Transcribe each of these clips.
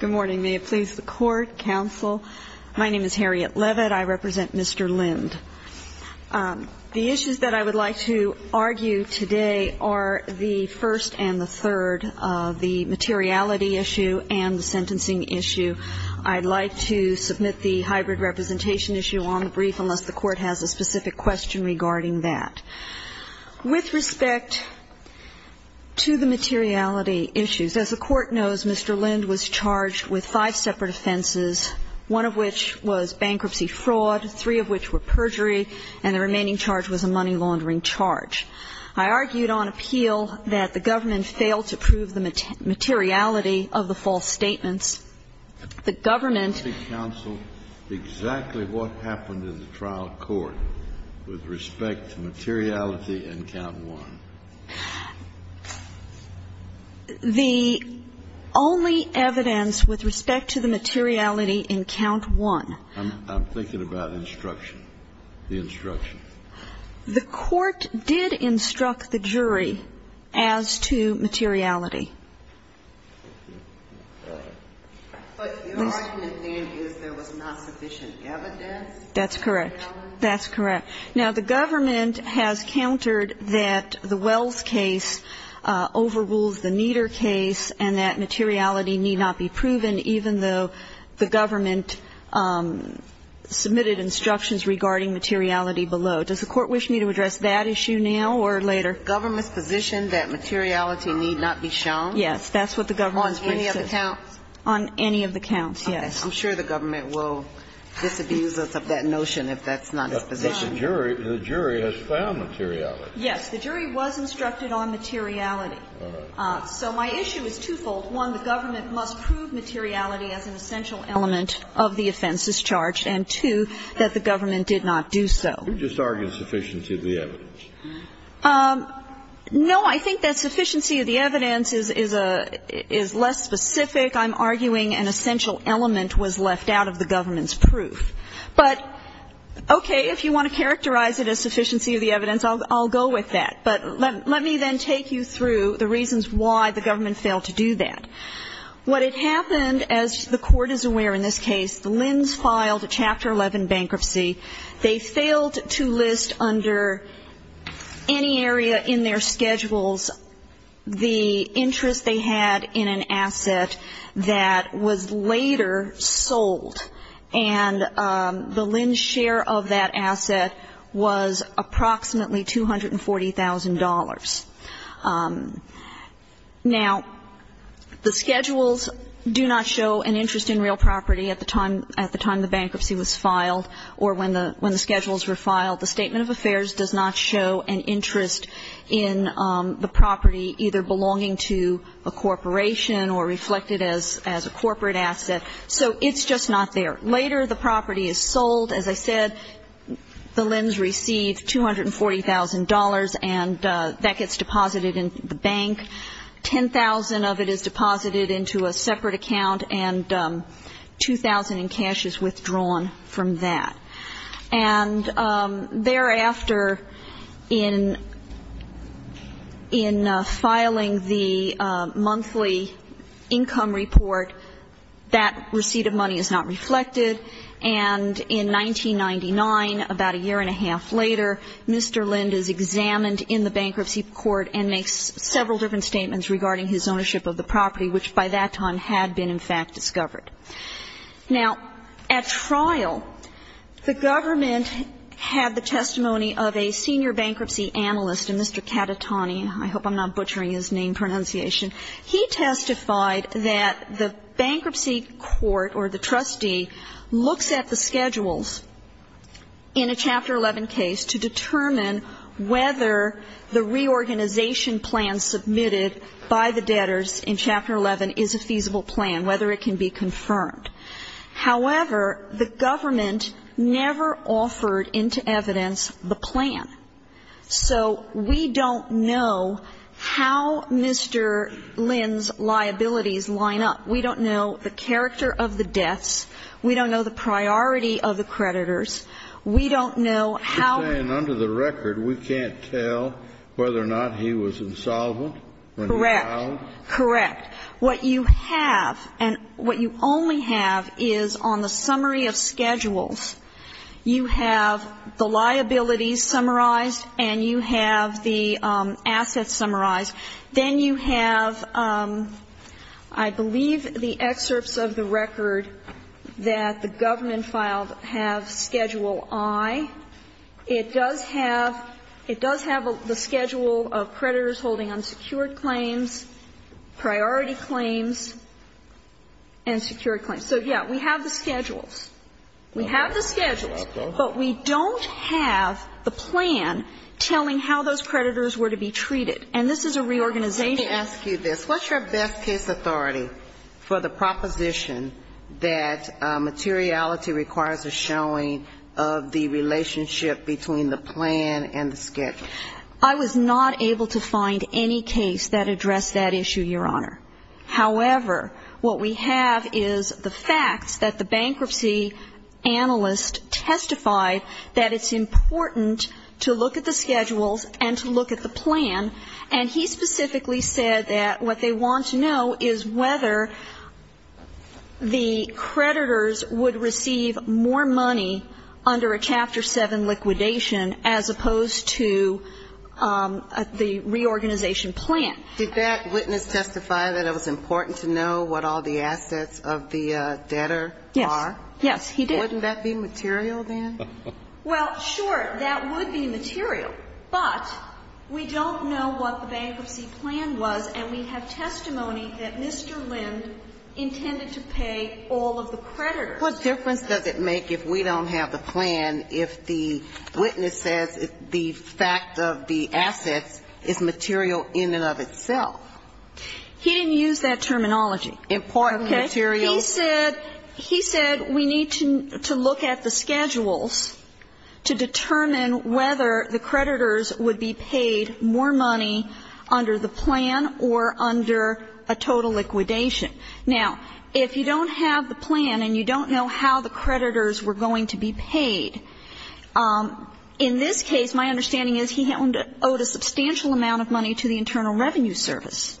Good morning. May it please the Court, Counsel. My name is Harriet Leavitt. I represent Mr. Lind. The issues that I would like to argue today are the first and the third of the materiality issue and the sentencing issue. I'd like to submit the hybrid representation issue on the brief unless the Court has a specific question regarding that. With respect to the materiality issues, as the Court knows, Mr. Lind was charged with five separate offenses, one of which was bankruptcy fraud, three of which were perjury, and the remaining charge was a money laundering charge. I argued on appeal that the government failed to prove the materiality of the false statements. The government ---- The only evidence with respect to the materiality in count one ---- I'm thinking about instruction, the instruction. The Court did instruct the jury as to materiality. But your argument then is there was not sufficient evidence? That's correct. That's correct. Now, the government has countered that the Wells case overrules the Nieder case and that materiality need not be proven, even though the government submitted instructions regarding materiality below. Does the Court wish me to address that issue now or later? The government's position that materiality need not be shown? Yes, that's what the government's position is. On any of the counts? On any of the counts, yes. I'm sure the government will disabuse us of that notion if that's not its position. But the jury has found materiality. Yes. The jury was instructed on materiality. So my issue is twofold. One, the government must prove materiality as an essential element of the offenses charged, and two, that the government did not do so. You're just arguing sufficiency of the evidence. No, I think that sufficiency of the evidence is less specific. I'm arguing an essential element was left out of the government's proof. But, okay, if you want to characterize it as sufficiency of the evidence, I'll go with that. But let me then take you through the reasons why the government failed to do that. What had happened, as the Court is aware in this case, Lins filed a Chapter 11 bankruptcy. They failed to list under any area in their schedules the interest they had in an asset that was later sold. And the Lins share of that asset was approximately $240,000. Now, the schedules do not show an interest in real property at the time the bankruptcy was filed or when the schedules were filed. The Statement of Affairs does not show an interest in the property either belonging to a corporation or reflected as a corporate asset. So it's just not there. Later, the property is sold. As I said, the Lins receive $240,000, and that gets deposited in the bank. $10,000 of it is deposited into a separate account, and $2,000 in cash is withdrawn from that. And thereafter, in filing the monthly income report, that receipt of money is not reflected. And in 1999, about a year and a half later, Mr. Lins is examined in the bankruptcy court and makes several different statements regarding his ownership of the property, which by that time had been, in fact, discovered. Now, at trial, the government had the testimony of a senior bankruptcy analyst, a Mr. Catatoni. I hope I'm not butchering his name pronunciation. He testified that the bankruptcy court or the trustee looks at the schedules in a Chapter 11 case to determine whether the reorganization plan submitted by the debtors in Chapter 11 is a feasible plan, whether it can be confirmed. However, the government never offered into evidence the plan. So we don't know how Mr. Lins' liabilities line up. We don't know the character of the debts. We don't know the priority of the creditors. We don't know how to do it. And under the record, we can't tell whether or not he was insolvent when he filed? Correct. Correct. What you have and what you only have is on the summary of schedules, you have the liabilities summarized and you have the assets summarized. Then you have, I believe, the excerpts of the record that the government filed have Schedule I. It does have the schedule of creditors holding unsecured claims, priority claims, and secured claims. So, yes, we have the schedules. We have the schedules, but we don't have the plan telling how those creditors were to be treated. And this is a reorganization. Let me ask you this. What's your best case authority for the proposition that materiality requires a showing of the relationship between the plan and the schedule? I was not able to find any case that addressed that issue, Your Honor. However, what we have is the facts that the bankruptcy analyst testified that it's important to look at the And he specifically said that what they want to know is whether the creditors would receive more money under a Chapter 7 liquidation as opposed to the reorganization plan. Did that witness testify that it was important to know what all the assets of the debtor are? Yes. Yes, he did. Wouldn't that be material then? Well, sure, that would be material. But we don't know what the bankruptcy plan was, and we have testimony that Mr. Lind intended to pay all of the creditors. What difference does it make if we don't have the plan if the witness says the fact of the assets is material in and of itself? He didn't use that terminology. Important materials. Okay. He said we need to look at the schedules to determine whether the creditors would be paid more money under the plan or under a total liquidation. Now, if you don't have the plan and you don't know how the creditors were going to be paid, in this case, my understanding is he owed a substantial amount of money to the Internal Revenue Service.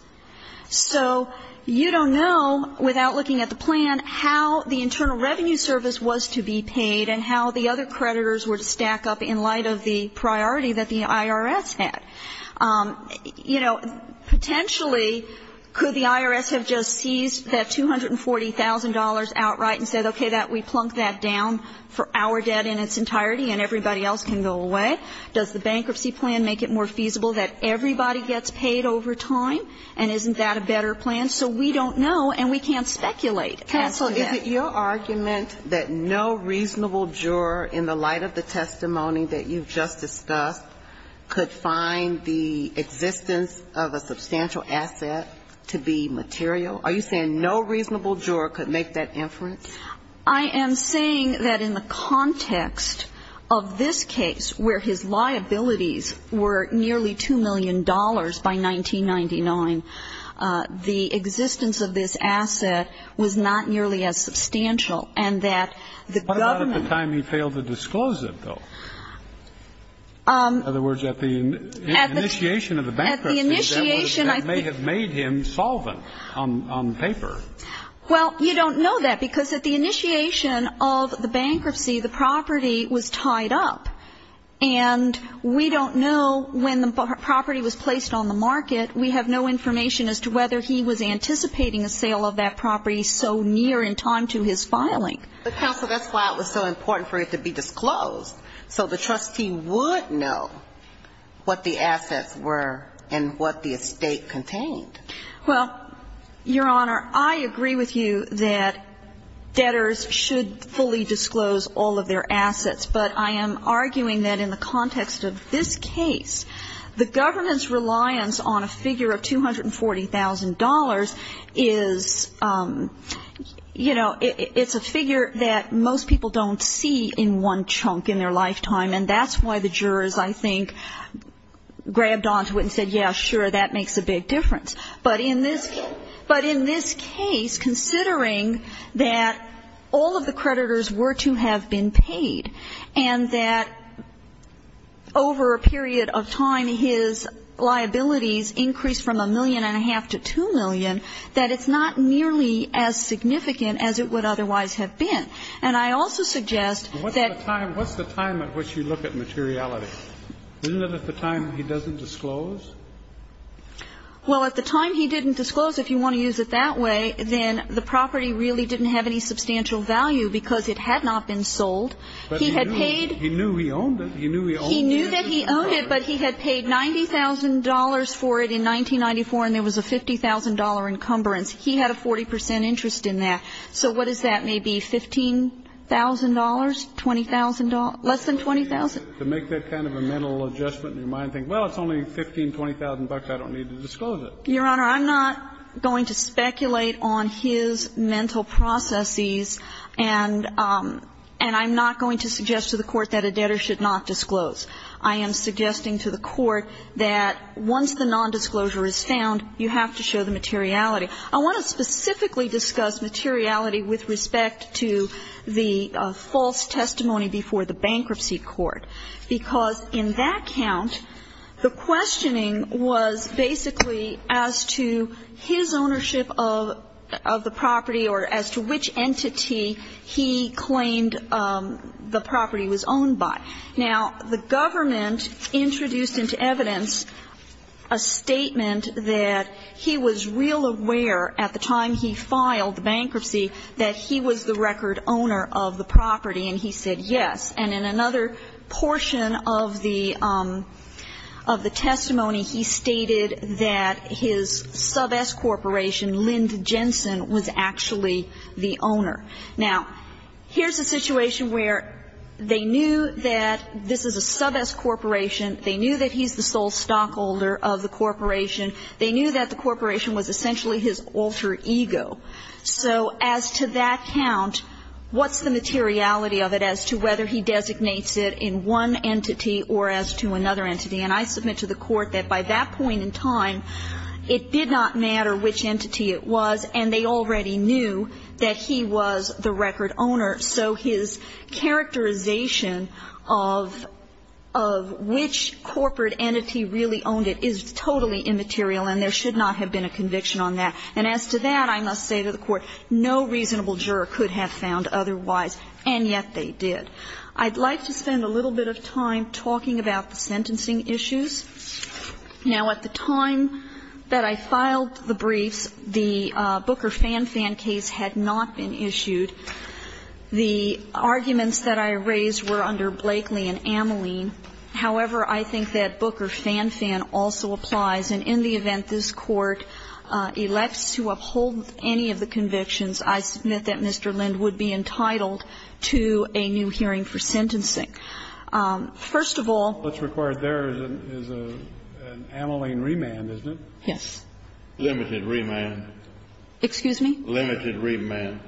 So you don't know without looking at the plan how the Internal Revenue Service was to be paid and how the other creditors were to stack up in light of the priority that the IRS had. You know, potentially, could the IRS have just seized that $240,000 outright and said, okay, we plunk that down for our debt in its entirety and everybody else can go away? Does the bankruptcy plan make it more feasible that everybody gets paid over time? And isn't that a better plan? So we don't know and we can't speculate as to that. Counsel, is it your argument that no reasonable juror in the light of the testimony that you've just discussed could find the existence of a substantial asset to be material? Are you saying no reasonable juror could make that inference? I am saying that in the context of this case where his liabilities were nearly $2 million by 1999, the existence of this asset was not nearly as substantial and that the government ---- What about at the time he failed to disclose it, though? In other words, at the initiation of the bankruptcy, that may have made him solvent on paper. Well, you don't know that because at the initiation of the bankruptcy, the property was tied up. And we don't know when the property was placed on the market. We have no information as to whether he was anticipating a sale of that property so near in time to his filing. But, counsel, that's why it was so important for it to be disclosed, so the trustee would know what the assets were and what the estate contained. Well, Your Honor, I agree with you that debtors should fully disclose all of their assets. But I am arguing that in the context of this case, the government's reliance on a figure of $240,000 is, you know, it's a figure that most people don't see in one chunk in their lifetime. And that's why the jurors, I think, grabbed onto it and said, yeah, sure, that makes a big difference. But in this case, considering that all of the creditors were to have been paid, and that over a period of time, his liabilities increased from a million and a half to 2 million, that it's not nearly as significant as it would otherwise have been. And I also suggest that the time at which you look at materiality, isn't it at the time he doesn't disclose? Well, at the time he didn't disclose, if you want to use it that way, then the property really didn't have any substantial value because it had not been sold. But he had paid. He knew he owned it. He knew he owned it. He knew that he owned it, but he had paid $90,000 for it in 1994, and there was a $50,000 encumbrance. He had a 40 percent interest in that. So what is that? Maybe $15,000, $20,000, less than $20,000? To make that kind of a mental adjustment in your mind and think, well, it's only $15,000, $20,000, I don't need to disclose it. Your Honor, I'm not going to speculate on his mental processes, and I'm not going to suggest to the Court that a debtor should not disclose. I am suggesting to the Court that once the nondisclosure is found, you have to show the materiality. I want to specifically discuss materiality with respect to the false testimony before the bankruptcy court, because in that count, the questioning was basically as to his ownership of the property or as to which entity he claimed the property was owned by. Now, the government introduced into evidence a statement that he was real aware at the time he filed the bankruptcy that he was the record owner of the property, and he said yes. And in another portion of the testimony, he stated that his sub-S corporation, Lynd Jensen, was actually the owner. Now, here's a situation where they knew that this is a sub-S corporation. They knew that he's the sole stockholder of the corporation. They knew that the corporation was essentially his alter ego. So as to that count, what's the materiality of it as to whether he designates it in one entity or as to another entity? And I submit to the Court that by that point in time, it did not matter which entity it was, and they already knew that he was the record owner. So his characterization of which corporate entity really owned it is totally immaterial, and there should not have been a conviction on that. And as to that, I must say to the Court, no reasonable juror could have found otherwise, and yet they did. I'd like to spend a little bit of time talking about the sentencing issues. Now, at the time that I filed the briefs, the Booker-Fan-Fan case had not been issued. The arguments that I raised were under Blakeley and Ameline. However, I think that Booker-Fan-Fan also applies. And in the event this Court elects to uphold any of the convictions, I submit that Mr. Lind would be entitled to a new hearing for sentencing. First of all, what's required there is an Ameline remand, isn't it? Yes. Limited remand. Excuse me? Limited remand.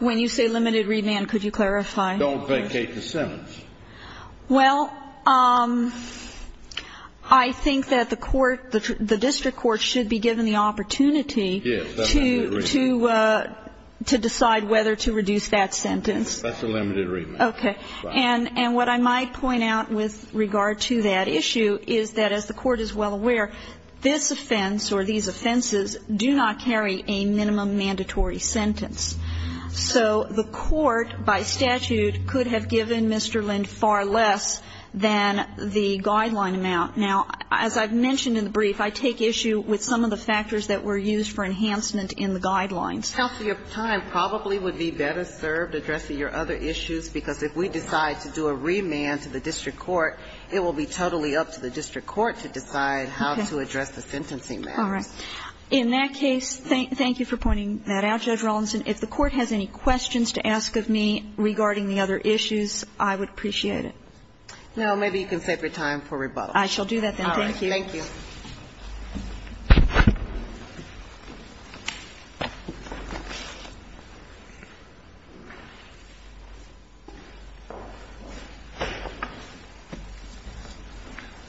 When you say limited remand, could you clarify? Don't vacate the sentence. Well, I think that the court, the district court should be given the opportunity to decide whether to reduce that sentence. That's a limited remand. Okay. And what I might point out with regard to that issue is that, as the Court is well aware, this offense or these offenses do not carry a minimum mandatory sentence. So the court, by statute, could have given Mr. Lind far less than the guideline amount. Now, as I've mentioned in the brief, I take issue with some of the factors that were used for enhancement in the guidelines. Counsel, your time probably would be better served addressing your other issues, because if we decide to do a remand to the district court, it will be totally up to the district court to decide how to address the sentencing matters. All right. In that case, thank you for pointing that out, Judge Rawlinson. If the Court has any questions to ask of me regarding the other issues, I would appreciate it. No. Maybe you can save your time for rebuttal. I shall do that, then. Thank you. All right. Thank you.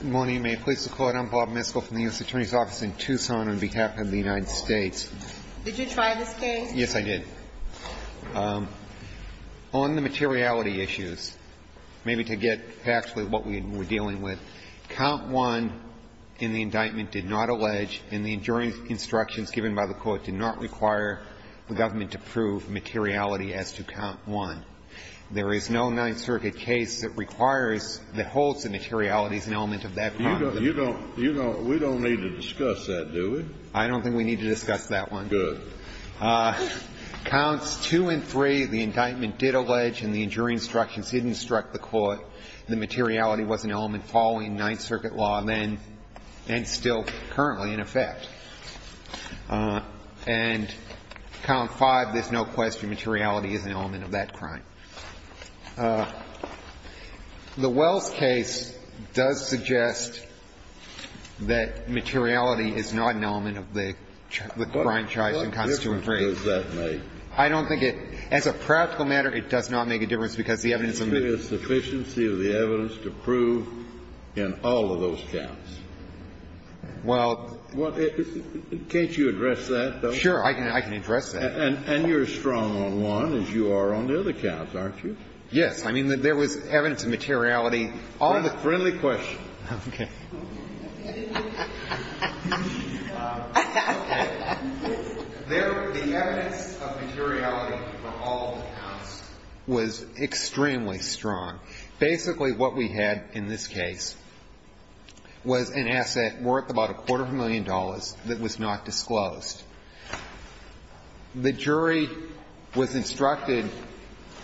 Good morning, and may it please the Court. I'm Bob Miskell from the U.S. Attorney's Office in Tucson on behalf of the United Did you try this case? Yes, I did. On the materiality issues, maybe to get actually what we're dealing with, count one in the indictment did not allege in the injuring instructions given by the Court did not require the government to prove materiality as to count one. There is no Ninth Circuit case that requires, that holds the materiality as an element of that content. You don't need to discuss that, do we? I don't think we need to discuss that one. Good. Counts two and three, the indictment did allege in the injuring instructions given struck the Court the materiality was an element following Ninth Circuit law and still currently in effect. And count five, there's no question materiality is an element of that crime. The Wells case does suggest that materiality is not an element of the crime charged in the case. It's not. I don't think it's a practical matter. It does not make a difference because the evidence in the case. There is a sufficiency of the evidence to prove in all of those counts. Well, can't you address that, though? Sure. I can address that. And you're as strong on one as you are on the other counts, aren't you? Yes. I mean, there was evidence of materiality all the time. Friendly question. Okay. The evidence of materiality for all of the counts was extremely strong. Basically, what we had in this case was an asset worth about a quarter of a million dollars that was not disclosed. The jury was instructed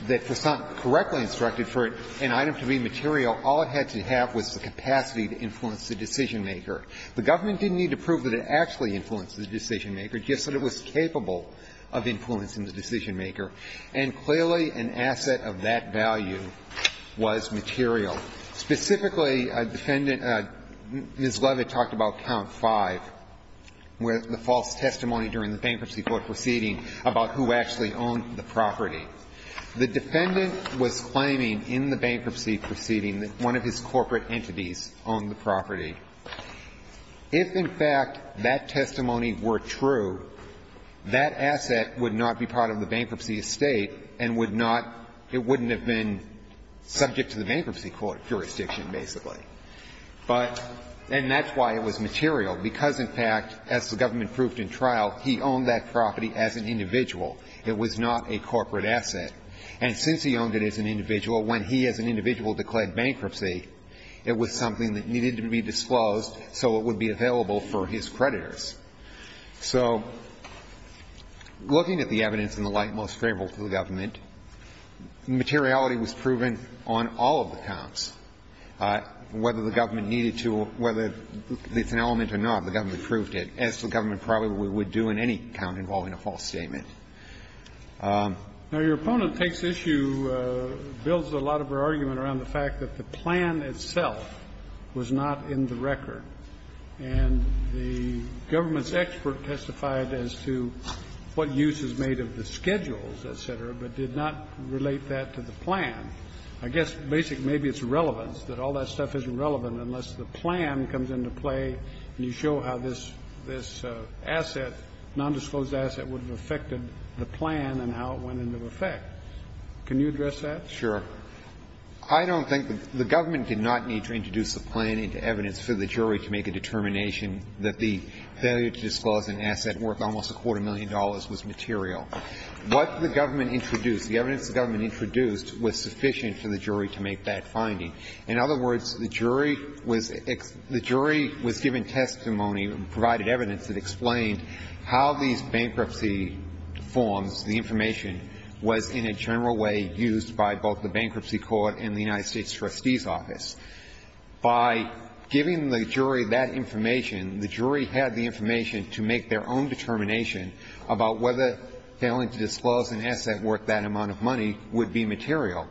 that for something correctly instructed for an item to be material, all it had to have was the capacity to influence the decision-maker. The government didn't need to prove that it actually influenced the decision-maker, just that it was capable of influencing the decision-maker. And clearly, an asset of that value was material. Specifically, defendant Ms. Leavitt talked about count 5, where the false testimony The defendant was claiming in the bankruptcy proceeding that one of his corporate entities owned the property. If, in fact, that testimony were true, that asset would not be part of the bankruptcy estate and would not be subject to the bankruptcy jurisdiction, basically. And that's why it was material, because, in fact, as the government proved in trial, he owned that property as an individual. It was not a corporate asset. And since he owned it as an individual, when he as an individual declared bankruptcy, it was something that needed to be disclosed so it would be available for his creditors. So looking at the evidence in the light most favorable to the government, materiality was proven on all of the counts, whether the government needed to or whether it's an element or not. The government proved it, as the government probably would do in any count involving any kind of false statement. Now, your opponent takes issue, builds a lot of her argument around the fact that the plan itself was not in the record. And the government's expert testified as to what use is made of the schedules, et cetera, but did not relate that to the plan. I guess basically maybe it's relevance, that all that stuff isn't relevant unless the plan comes into play and you show how this asset, nondisclosed asset, would have affected the plan and how it went into effect. Can you address that? Sure. I don't think the government did not need to introduce the plan into evidence for the jury to make a determination that the failure to disclose an asset worth almost a quarter million dollars was material. What the government introduced, the evidence the government introduced was sufficient for the jury to make that finding. In other words, the jury was given testimony, provided evidence that explained how these bankruptcy forms, the information, was in a general way used by both the bankruptcy court and the United States trustee's office. By giving the jury that information, the jury had the information to make their own determination about whether failing to disclose an asset worth that amount of money would be material.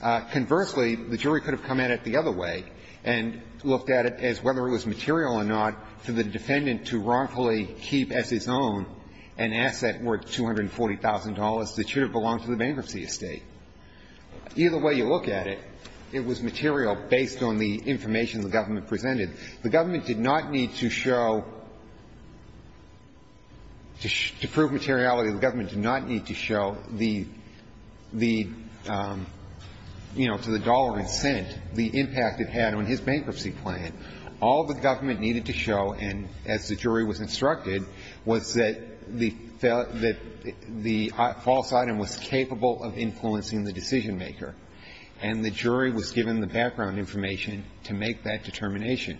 Conversely, the jury could have come at it the other way and looked at it as whether it was material or not for the defendant to wrongfully keep as his own an asset worth $240,000 that should have belonged to the bankruptcy estate. Either way you look at it, it was material based on the information the government presented. The government did not need to show to prove materiality. The government did not need to show the, you know, to the dollar it sent, the impact it had on his bankruptcy plan. All the government needed to show, and as the jury was instructed, was that the false item was capable of influencing the decision-maker. And the jury was given the background information to make that determination.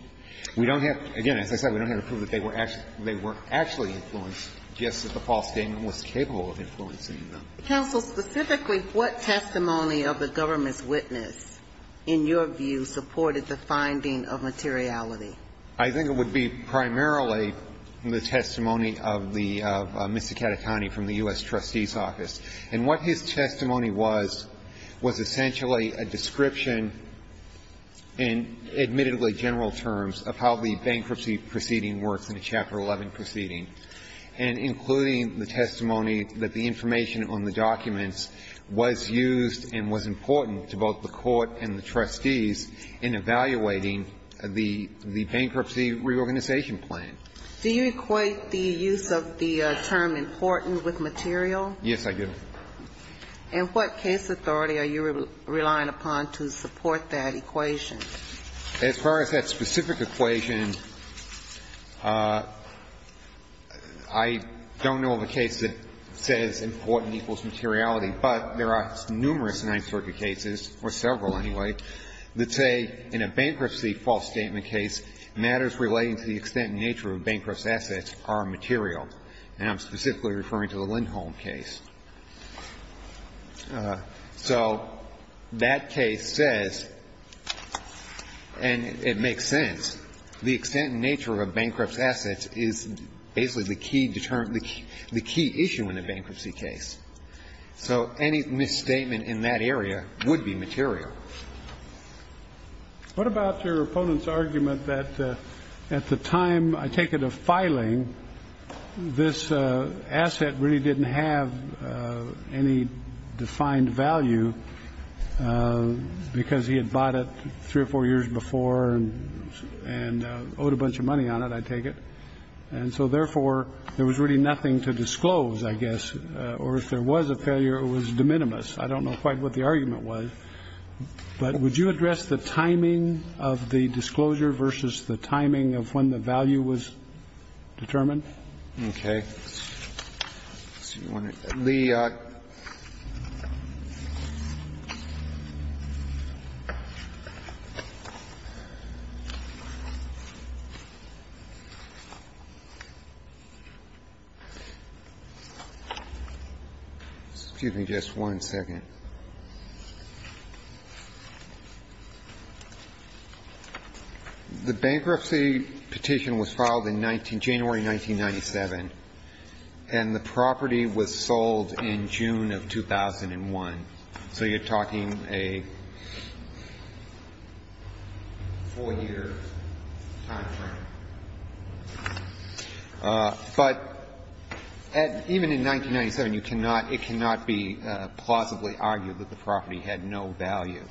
We don't have to, again, as I said, we don't have to prove that they were actually influenced, just that the false statement was capable of influencing them. Counsel, specifically, what testimony of the government's witness, in your view, supported the finding of materiality? I think it would be primarily the testimony of the Mr. Catatoni from the U.S. Trustee's office. And what his testimony was, was essentially a description, in admittedly general terms, of how the bankruptcy proceeding works in the Chapter 11 proceeding, and including the testimony that the information on the documents was used and was important to both the court and the trustees in evaluating the bankruptcy reorganization plan. Do you equate the use of the term important with material? Yes, I do. And what case authority are you relying upon to support that equation? As far as that specific equation, I don't know of a case that says important equals materiality, but there are numerous Ninth Circuit cases, or several anyway, that say in a bankruptcy false statement case, matters relating to the extent and nature of a bankrupt's assets are material. And I'm specifically referring to the Lindholm case. So that case says, and it makes sense, the extent and nature of a bankrupt's assets is basically the key issue in a bankruptcy case. So any misstatement in that area would be material. What about your opponent's argument that at the time, I take it, of filing, this was a failure of any defined value because he had bought it three or four years before and owed a bunch of money on it, I take it. And so therefore, there was really nothing to disclose, I guess, or if there was a failure, it was de minimis. I don't know quite what the argument was. But would you address the timing of the disclosure versus the timing of when the value was determined? Okay. Let's see. Excuse me just one second. The bankruptcy petition was filed in January 1997. And the property was sold in June of 2001. So you're talking a four-year time frame. But even in 1997, you cannot, it cannot be plausibly unlawful. I would argue that the property had no value.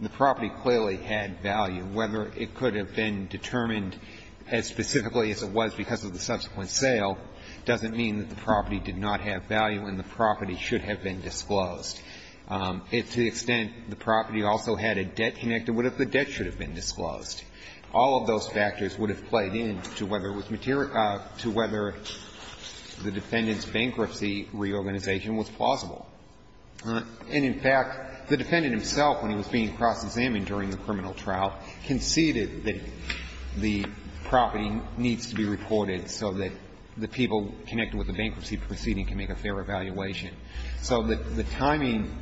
The property clearly had value. Whether it could have been determined as specifically as it was because of the subsequent sale doesn't mean that the property did not have value and the property should have been disclosed. To the extent the property also had a debt connected, what if the debt should have been disclosed? All of those factors would have played into whether it was material to whether the defendant's bankruptcy reorganization was plausible. And, in fact, the defendant himself, when he was being cross-examined during the criminal trial, conceded that the property needs to be reported so that the people connected with the bankruptcy proceeding can make a fair evaluation. So the timing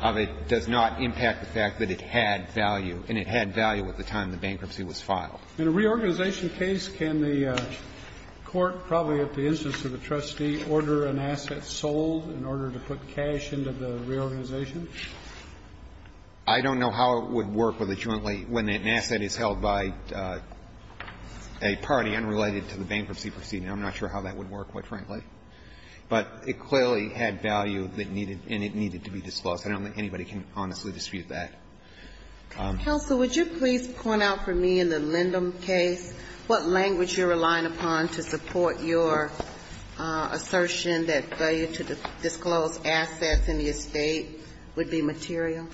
of it does not impact the fact that it had value. And it had value at the time the bankruptcy was filed. In a reorganization case, can the court probably at the instance of the trustee order an asset sold in order to put cash into the reorganization? I don't know how it would work with a jointly, when an asset is held by a party unrelated to the bankruptcy proceeding. I'm not sure how that would work, quite frankly. But it clearly had value that needed and it needed to be disclosed. I don't think anybody can honestly dispute that. Counsel, would you please point out for me in the Lindum case what language you're using for the assertion that value to disclose assets in the estate would be material?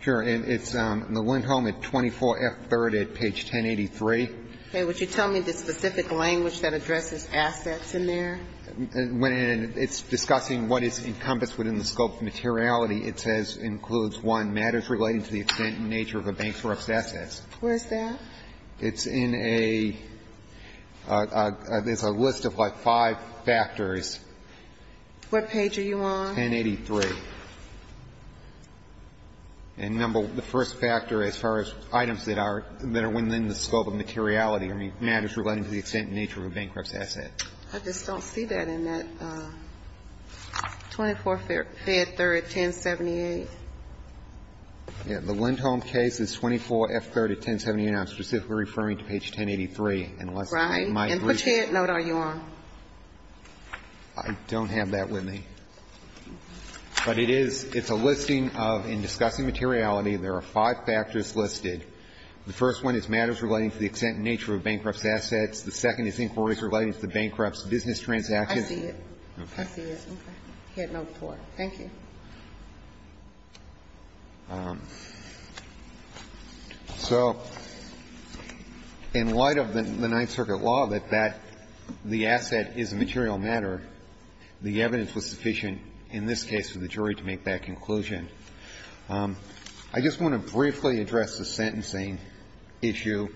Sure. And it's in the Lindholm at 24F3rd at page 1083. Okay. Would you tell me the specific language that addresses assets in there? When it's discussing what is encompassed within the scope of materiality, it says includes, one, matters relating to the extent and nature of a bank's or up's Where is that? It's in a list of like five factors. What page are you on? 1083. And, number, the first factor as far as items that are within the scope of materiality, I mean, matters relating to the extent and nature of a bankrupt's asset. I just don't see that in that. 24F3rd at 1078. The Lindholm case is 24F3rd at 1078. I'm specifically referring to page 1083. Right. And which head note are you on? I don't have that with me. But it is, it's a listing of in discussing materiality, there are five factors listed. The first one is matters relating to the extent and nature of bankrupt's assets. The second is inquiries relating to the bankrupt's business transactions. I see it. I see it. Head note 4. Thank you. So in light of the Ninth Circuit law that that, the asset is a material matter, the evidence was sufficient in this case for the jury to make that conclusion. I just want to briefly address the sentencing issue.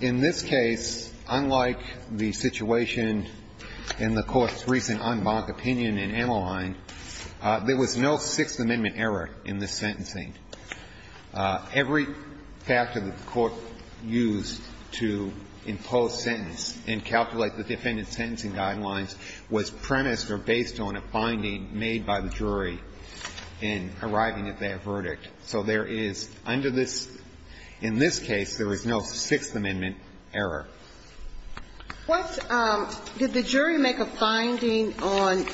In this case, unlike the situation in the Court's recent en banc opinion in Ammohine, there was no Sixth Amendment error in this sentencing. Every factor that the Court used to impose sentence and calculate the defendant's sentencing guidelines was premised or based on a finding made by the jury in arriving at their verdict. So there is, under this, in this case, there is no Sixth Amendment error. What, did the jury make a finding on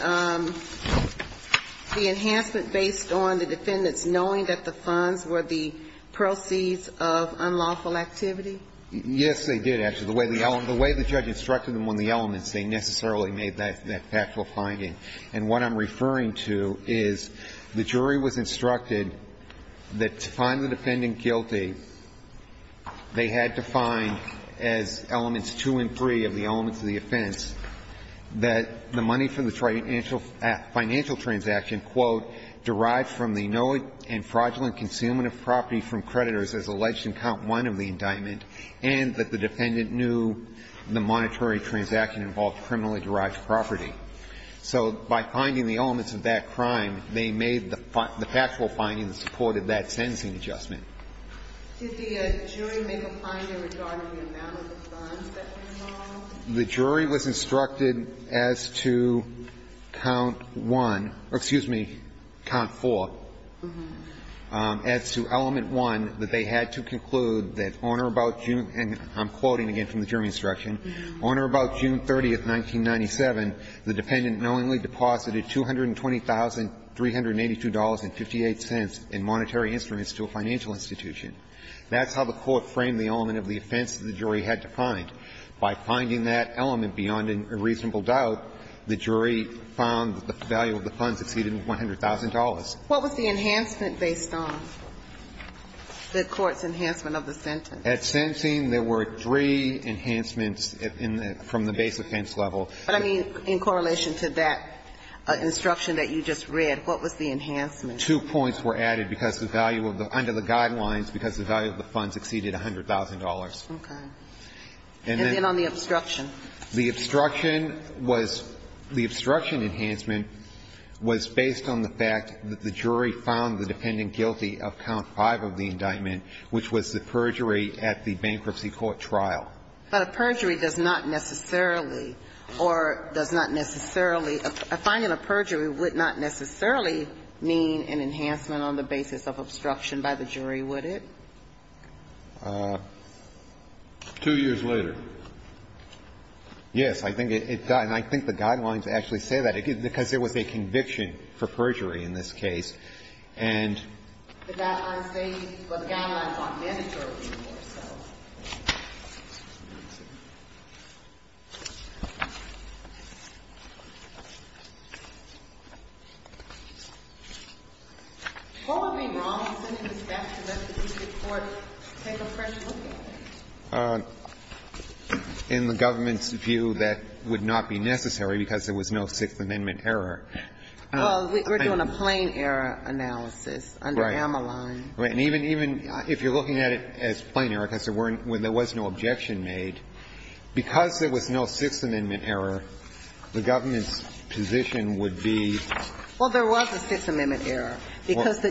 the enhancement based on the defendants knowing that the funds were the proceeds of unlawful activity? Yes, they did, actually. The way the judge instructed them on the elements, they necessarily made that factual finding. And what I'm referring to is the jury was instructed that to find the defendant guilty, they had to find, as elements 2 and 3 of the elements of the offense, that the money from the financial transaction, quote, derived from the knowing and fraudulent consumption of property from creditors as alleged in count 1 of the indictment, and that the defendant knew the monetary transaction involved criminally derived property. So by finding the elements of that crime, they made the factual finding that supported that sentencing adjustment. Did the jury make a finding regarding the amount of the funds that were involved? The jury was instructed as to count 1 or, excuse me, count 4, as to element 1, that they had to conclude that owner about June, and I'm quoting again from the jury instruction, owner about June 30th, 1997, the dependent knowingly deposited $220,382.58 in monetary instruments to a financial institution. That's how the court framed the element of the offense that the jury had to find. By finding that element beyond a reasonable doubt, the jury found that the value of the funds exceeded $100,000. What was the enhancement based on, the court's enhancement of the sentence? At sentencing, there were three enhancements from the base offense level. But, I mean, in correlation to that instruction that you just read, what was the enhancement? Two points were added because the value of the under the guidelines, because the value of the funds exceeded $100,000. Okay. And then on the obstruction. The obstruction was the obstruction enhancement was based on the fact that the jury found the dependent guilty of count five of the indictment, which was the perjury at the bankruptcy court trial. But a perjury does not necessarily, or does not necessarily, a finding of perjury would not necessarily mean an enhancement on the basis of obstruction by the jury, would it? Two years later. Yes. I think it, and I think the guidelines actually say that, because there was a conviction for perjury in this case. And the guidelines say, well, the guidelines aren't mandatory anymore, so. What would be wrong with sending this back to the legislative court to take a fresh look at it? In the government's view, that would not be necessary because there was no Sixth Amendment error. Well, we're doing a plain error analysis under Ameline. Right. And even if you're looking at it as plain error, because there weren't, there was no objection made, because there was no Sixth Amendment error, the government's position would be. Well, there was a Sixth Amendment error because the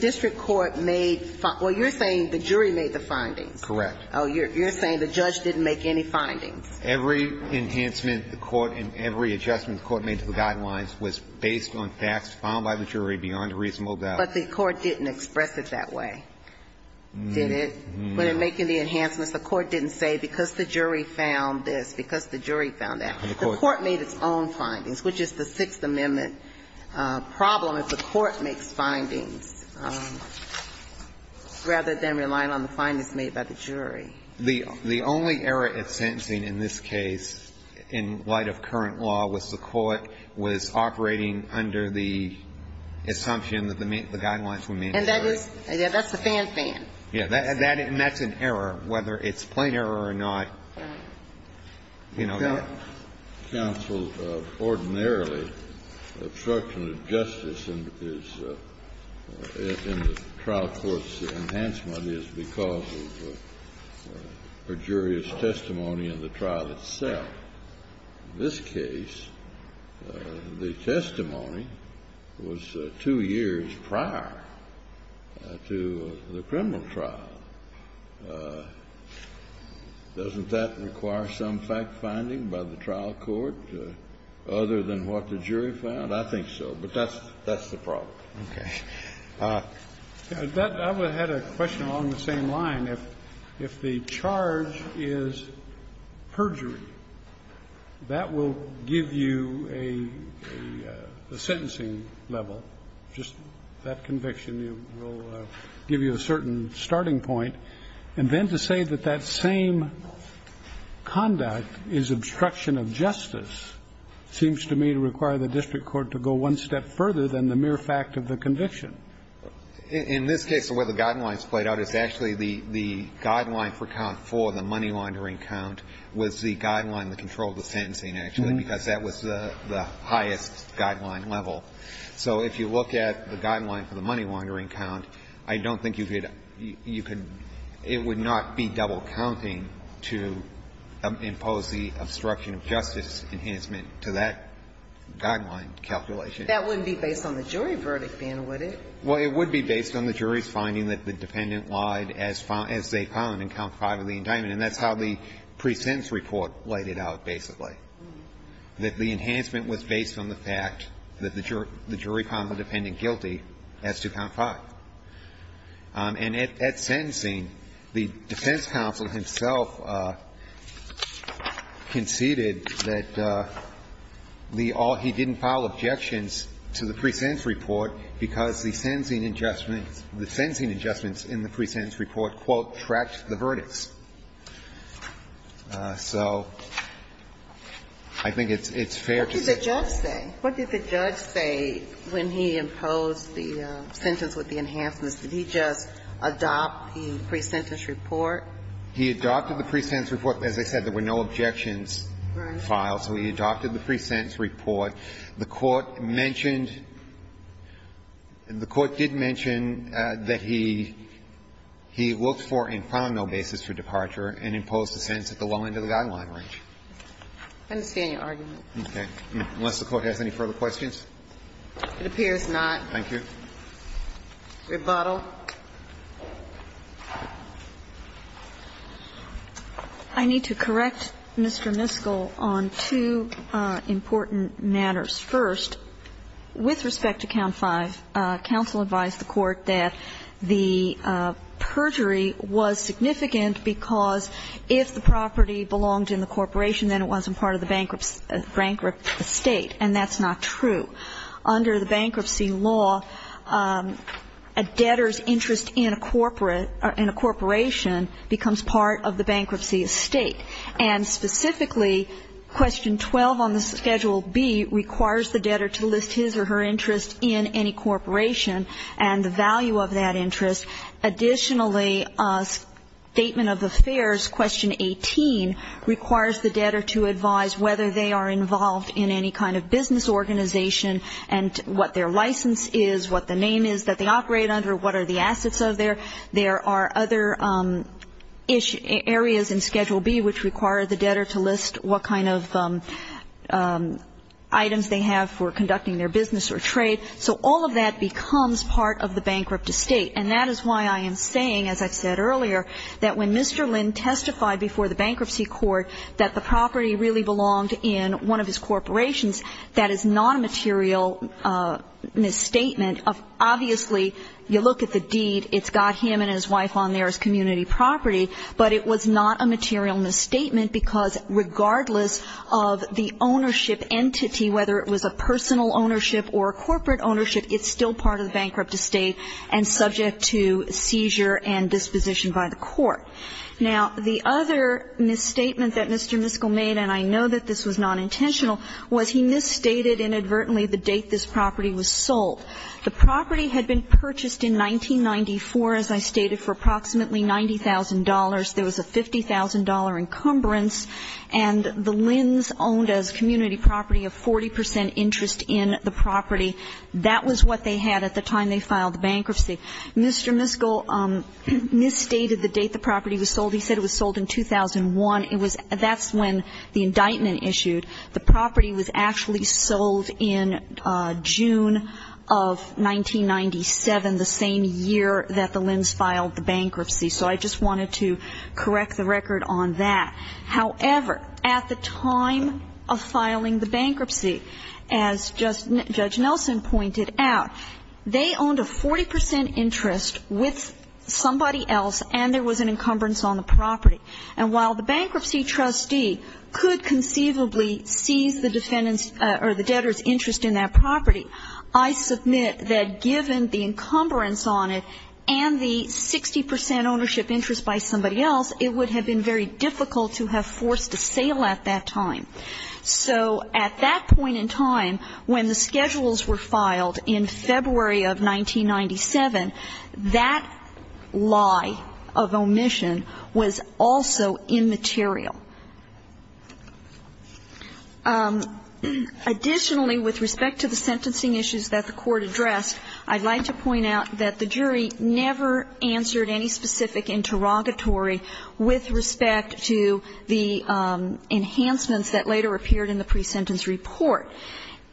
district court made, well, you're saying the jury made the findings. Correct. Oh, you're saying the judge didn't make any findings. Every enhancement the court and every adjustment the court made to the guidelines was based on facts found by the jury beyond a reasonable doubt. But the court didn't express it that way, did it? No. When they're making the enhancements, the court didn't say because the jury found this, because the jury found that. The court made its own findings, which is the Sixth Amendment problem if the court makes findings, rather than relying on the findings made by the jury. The only error at sentencing in this case, in light of current law, was the court was operating under the assumption that the guidelines were made by the jury. And that's a fan-fan. Yes. And that's an error, whether it's plain error or not. You know that? Counsel, ordinarily, obstruction of justice in the trial court's enhancement is because of perjurious testimony in the trial itself. In this case, the testimony was two years prior to the criminal trial. Doesn't that require some fact-finding by the trial court, other than what the jury found? I think so. But that's the problem. Okay. I had a question along the same line. If the charge is perjury, that will give you a sentencing level. Just that conviction will give you a certain starting point. And then to say that that same conduct is obstruction of justice seems to me to require the district court to go one step further than the mere fact of the conviction. In this case, the way the guidelines played out is actually the guideline for count four, the money-laundering count, was the guideline that controlled the sentencing, actually, because that was the highest guideline level. So if you look at the guideline for the money-laundering count, I don't think you could – it would not be double counting to impose the obstruction of justice enhancement to that guideline calculation. That wouldn't be based on the jury verdict, then, would it? Well, it would be based on the jury's finding that the defendant lied as they found in count five of the indictment. And that's how the pre-sentence report laid it out, basically. That the enhancement was based on the fact that the jury found the defendant guilty as to count five. And at sentencing, the defense counsel himself conceded that he didn't file objections to the pre-sentence report because the sentencing adjustments in the pre-sentence report, quote, tracked the verdicts. So I think it's fair to say that the judge said. What did the judge say when he imposed the sentence with the enhancements? Did he just adopt the pre-sentence report? He adopted the pre-sentence report. As I said, there were no objections filed. Right. So he adopted the pre-sentence report. The Court mentioned – the Court did mention that he looked for and found no basis for departure and imposed the sentence at the low end of the guideline range. I understand your argument. Okay. Unless the Court has any further questions. It appears not. Thank you. Rebuttal. I need to correct Mr. Miskell on two important matters. First, with respect to count five, counsel advised the Court that the perjury was significant because if the property belonged in the corporation, then it wasn't part of the bankrupt estate. And that's not true. Under the bankruptcy law, a debtor's interest in a corporate – in a corporation becomes part of the bankruptcy estate. And specifically, question 12 on the Schedule B requires the debtor to list his or her interest in any corporation and the value of that interest. Additionally, Statement of Affairs, question 18, requires the debtor to advise whether they are involved in any kind of business organization and what their license is, what the name is that they operate under, what are the assets of their – there are other areas in Schedule B which require the debtor to list what kind of items they have for conducting their business or trade. So all of that becomes part of the bankrupt estate. And that is why I am saying, as I've said earlier, that when Mr. Lynn testified before the bankruptcy court that the property really belonged in one of his corporations, that is not a material misstatement. Obviously, you look at the deed. It's got him and his wife on there as community property. But it was not a material misstatement because regardless of the ownership entity, whether it was a personal ownership or a corporate ownership, it's still part of the bankrupt estate and subject to seizure and disposition by the court. Now, the other misstatement that Mr. Miskell made, and I know that this was nonintentional, was he misstated inadvertently the date this property was sold. The property had been purchased in 1994, as I stated, for approximately $90,000. There was a $50,000 encumbrance. And the Lynn's owned as community property a 40 percent interest in the property. That was what they had at the time they filed the bankruptcy. Mr. Miskell misstated the date the property was sold. He said it was sold in 2001. That's when the indictment issued. The property was actually sold in June of 1997, the same year that the Lynn's filed the bankruptcy. So I just wanted to correct the record on that. However, at the time of filing the bankruptcy, as Judge Nelson pointed out, they owned a 40 percent interest with somebody else, and there was an encumbrance on the property. And while the bankruptcy trustee could conceivably seize the debtor's interest in that property, I submit that given the encumbrance on it and the 60 percent ownership interest by somebody else, it would have been very difficult to have forced a sale at that time. So at that point in time, when the schedules were filed in February of 1997, that lie of omission was also immaterial. Additionally, with respect to the sentencing issues that the Court addressed, I'd like to point out that the jury never answered any specific interrogatory with respect to the enhancements that later appeared in the presentence report.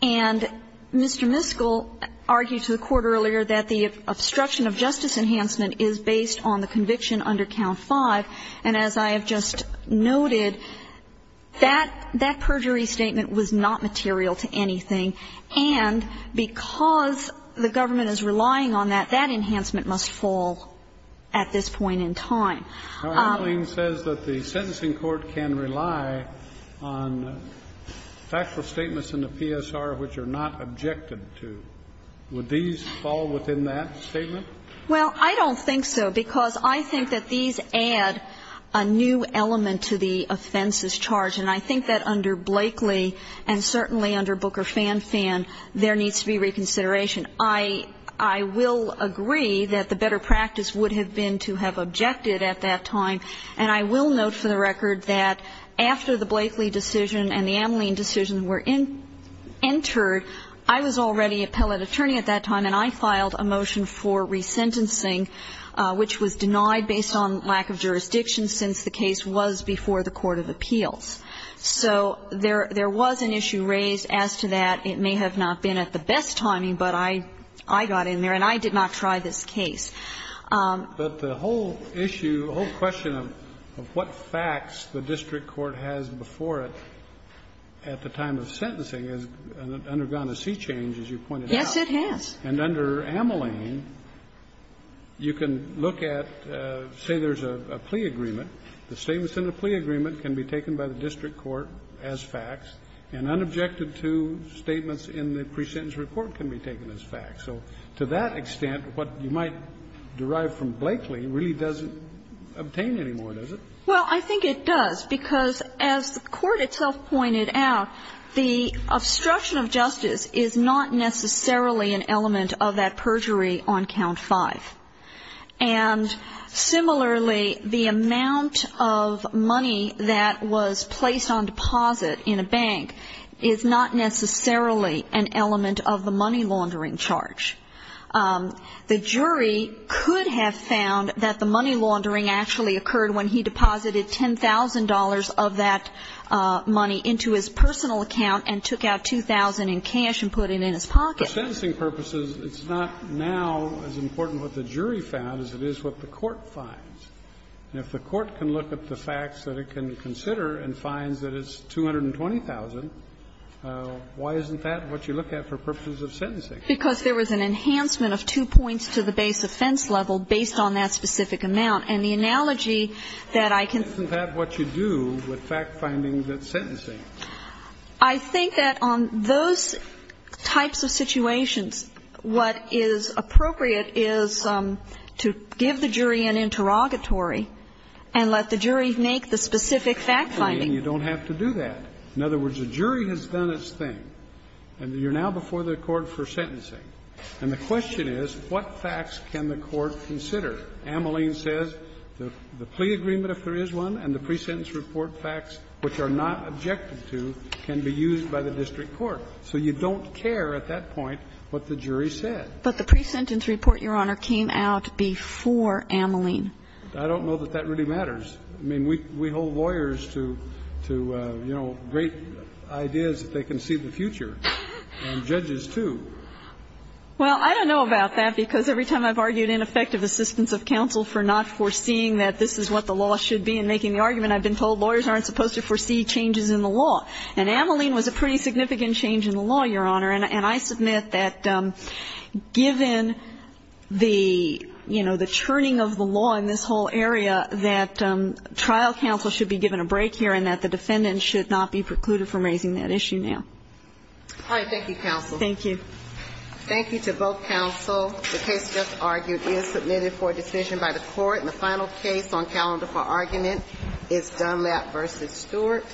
And Mr. Miskell argued to the Court earlier that the obstruction of justice enhancement is based on the conviction under Count 5. And as I have just noted, that perjury statement was not material to anything. And because the government is relying on that, that enhancement must fall at this point in time. Kennedy. Our ruling says that the sentencing court can rely on factual statements in the PSR which are not objected to. Would these fall within that statement? Well, I don't think so, because I think that these add a new element to the offenses charge. And I think that under Blakely and certainly under Booker Fan Fan, there needs to be reconsideration. I will agree that the better practice would have been to have objected at that time. And I will note for the record that after the Blakely decision and the Ameline decision were entered, I was already appellate attorney at that time, and I filed a motion for resentencing, which was denied based on lack of jurisdiction since the So there was an issue raised as to that. It may have not been at the best timing, but I got in there and I did not try this case. But the whole issue, the whole question of what facts the district court has before it at the time of sentencing has undergone a sea change, as you pointed out. Yes, it has. And under Ameline, you can look at, say there's a plea agreement. The statements in the plea agreement can be taken by the district court as facts, and unobjected to statements in the pre-sentence report can be taken as facts. So to that extent, what you might derive from Blakely really doesn't obtain anymore, does it? Well, I think it does, because as the Court itself pointed out, the obstruction of justice is not necessarily an element of that perjury on count 5. And similarly, the amount of money that was placed on deposit in a bank is not necessarily an element of the money laundering charge. The jury could have found that the money laundering actually occurred when he deposited $10,000 of that money into his personal account and took out 2,000 in cash and put it in his pocket. For sentencing purposes, it's not now as important what the jury found as it is what the court finds. And if the court can look at the facts that it can consider and finds that it's 220,000, why isn't that what you look at for purposes of sentencing? Because there was an enhancement of two points to the base offense level based on that specific amount. And the analogy that I can think of is that what you do with fact-finding that's sentencing. I think that on those types of situations, what is appropriate is to give the jury an interrogatory and let the jury make the specific fact-finding. Ameline, you don't have to do that. In other words, the jury has done its thing. And you're now before the Court for sentencing. And the question is, what facts can the Court consider? Ameline says the plea agreement, if there is one, and the pre-sentence report and all the facts which are not objected to can be used by the district court. So you don't care at that point what the jury said. But the pre-sentence report, Your Honor, came out before Ameline. I don't know that that really matters. I mean, we hold lawyers to, you know, great ideas that they can see the future, and judges too. Well, I don't know about that, because every time I've argued ineffective assistance of counsel for not foreseeing that this is what the law should be in making the argument, I've been told lawyers aren't supposed to foresee changes in the law. And Ameline was a pretty significant change in the law, Your Honor. And I submit that given the, you know, the churning of the law in this whole area, that trial counsel should be given a break here and that the defendant should not be precluded from raising that issue now. All right. Thank you, counsel. Thank you. Thank you to both counsel. The case just argued is submitted for decision by the Court. And the final case on calendar for argument is Dunlap v. Stewart.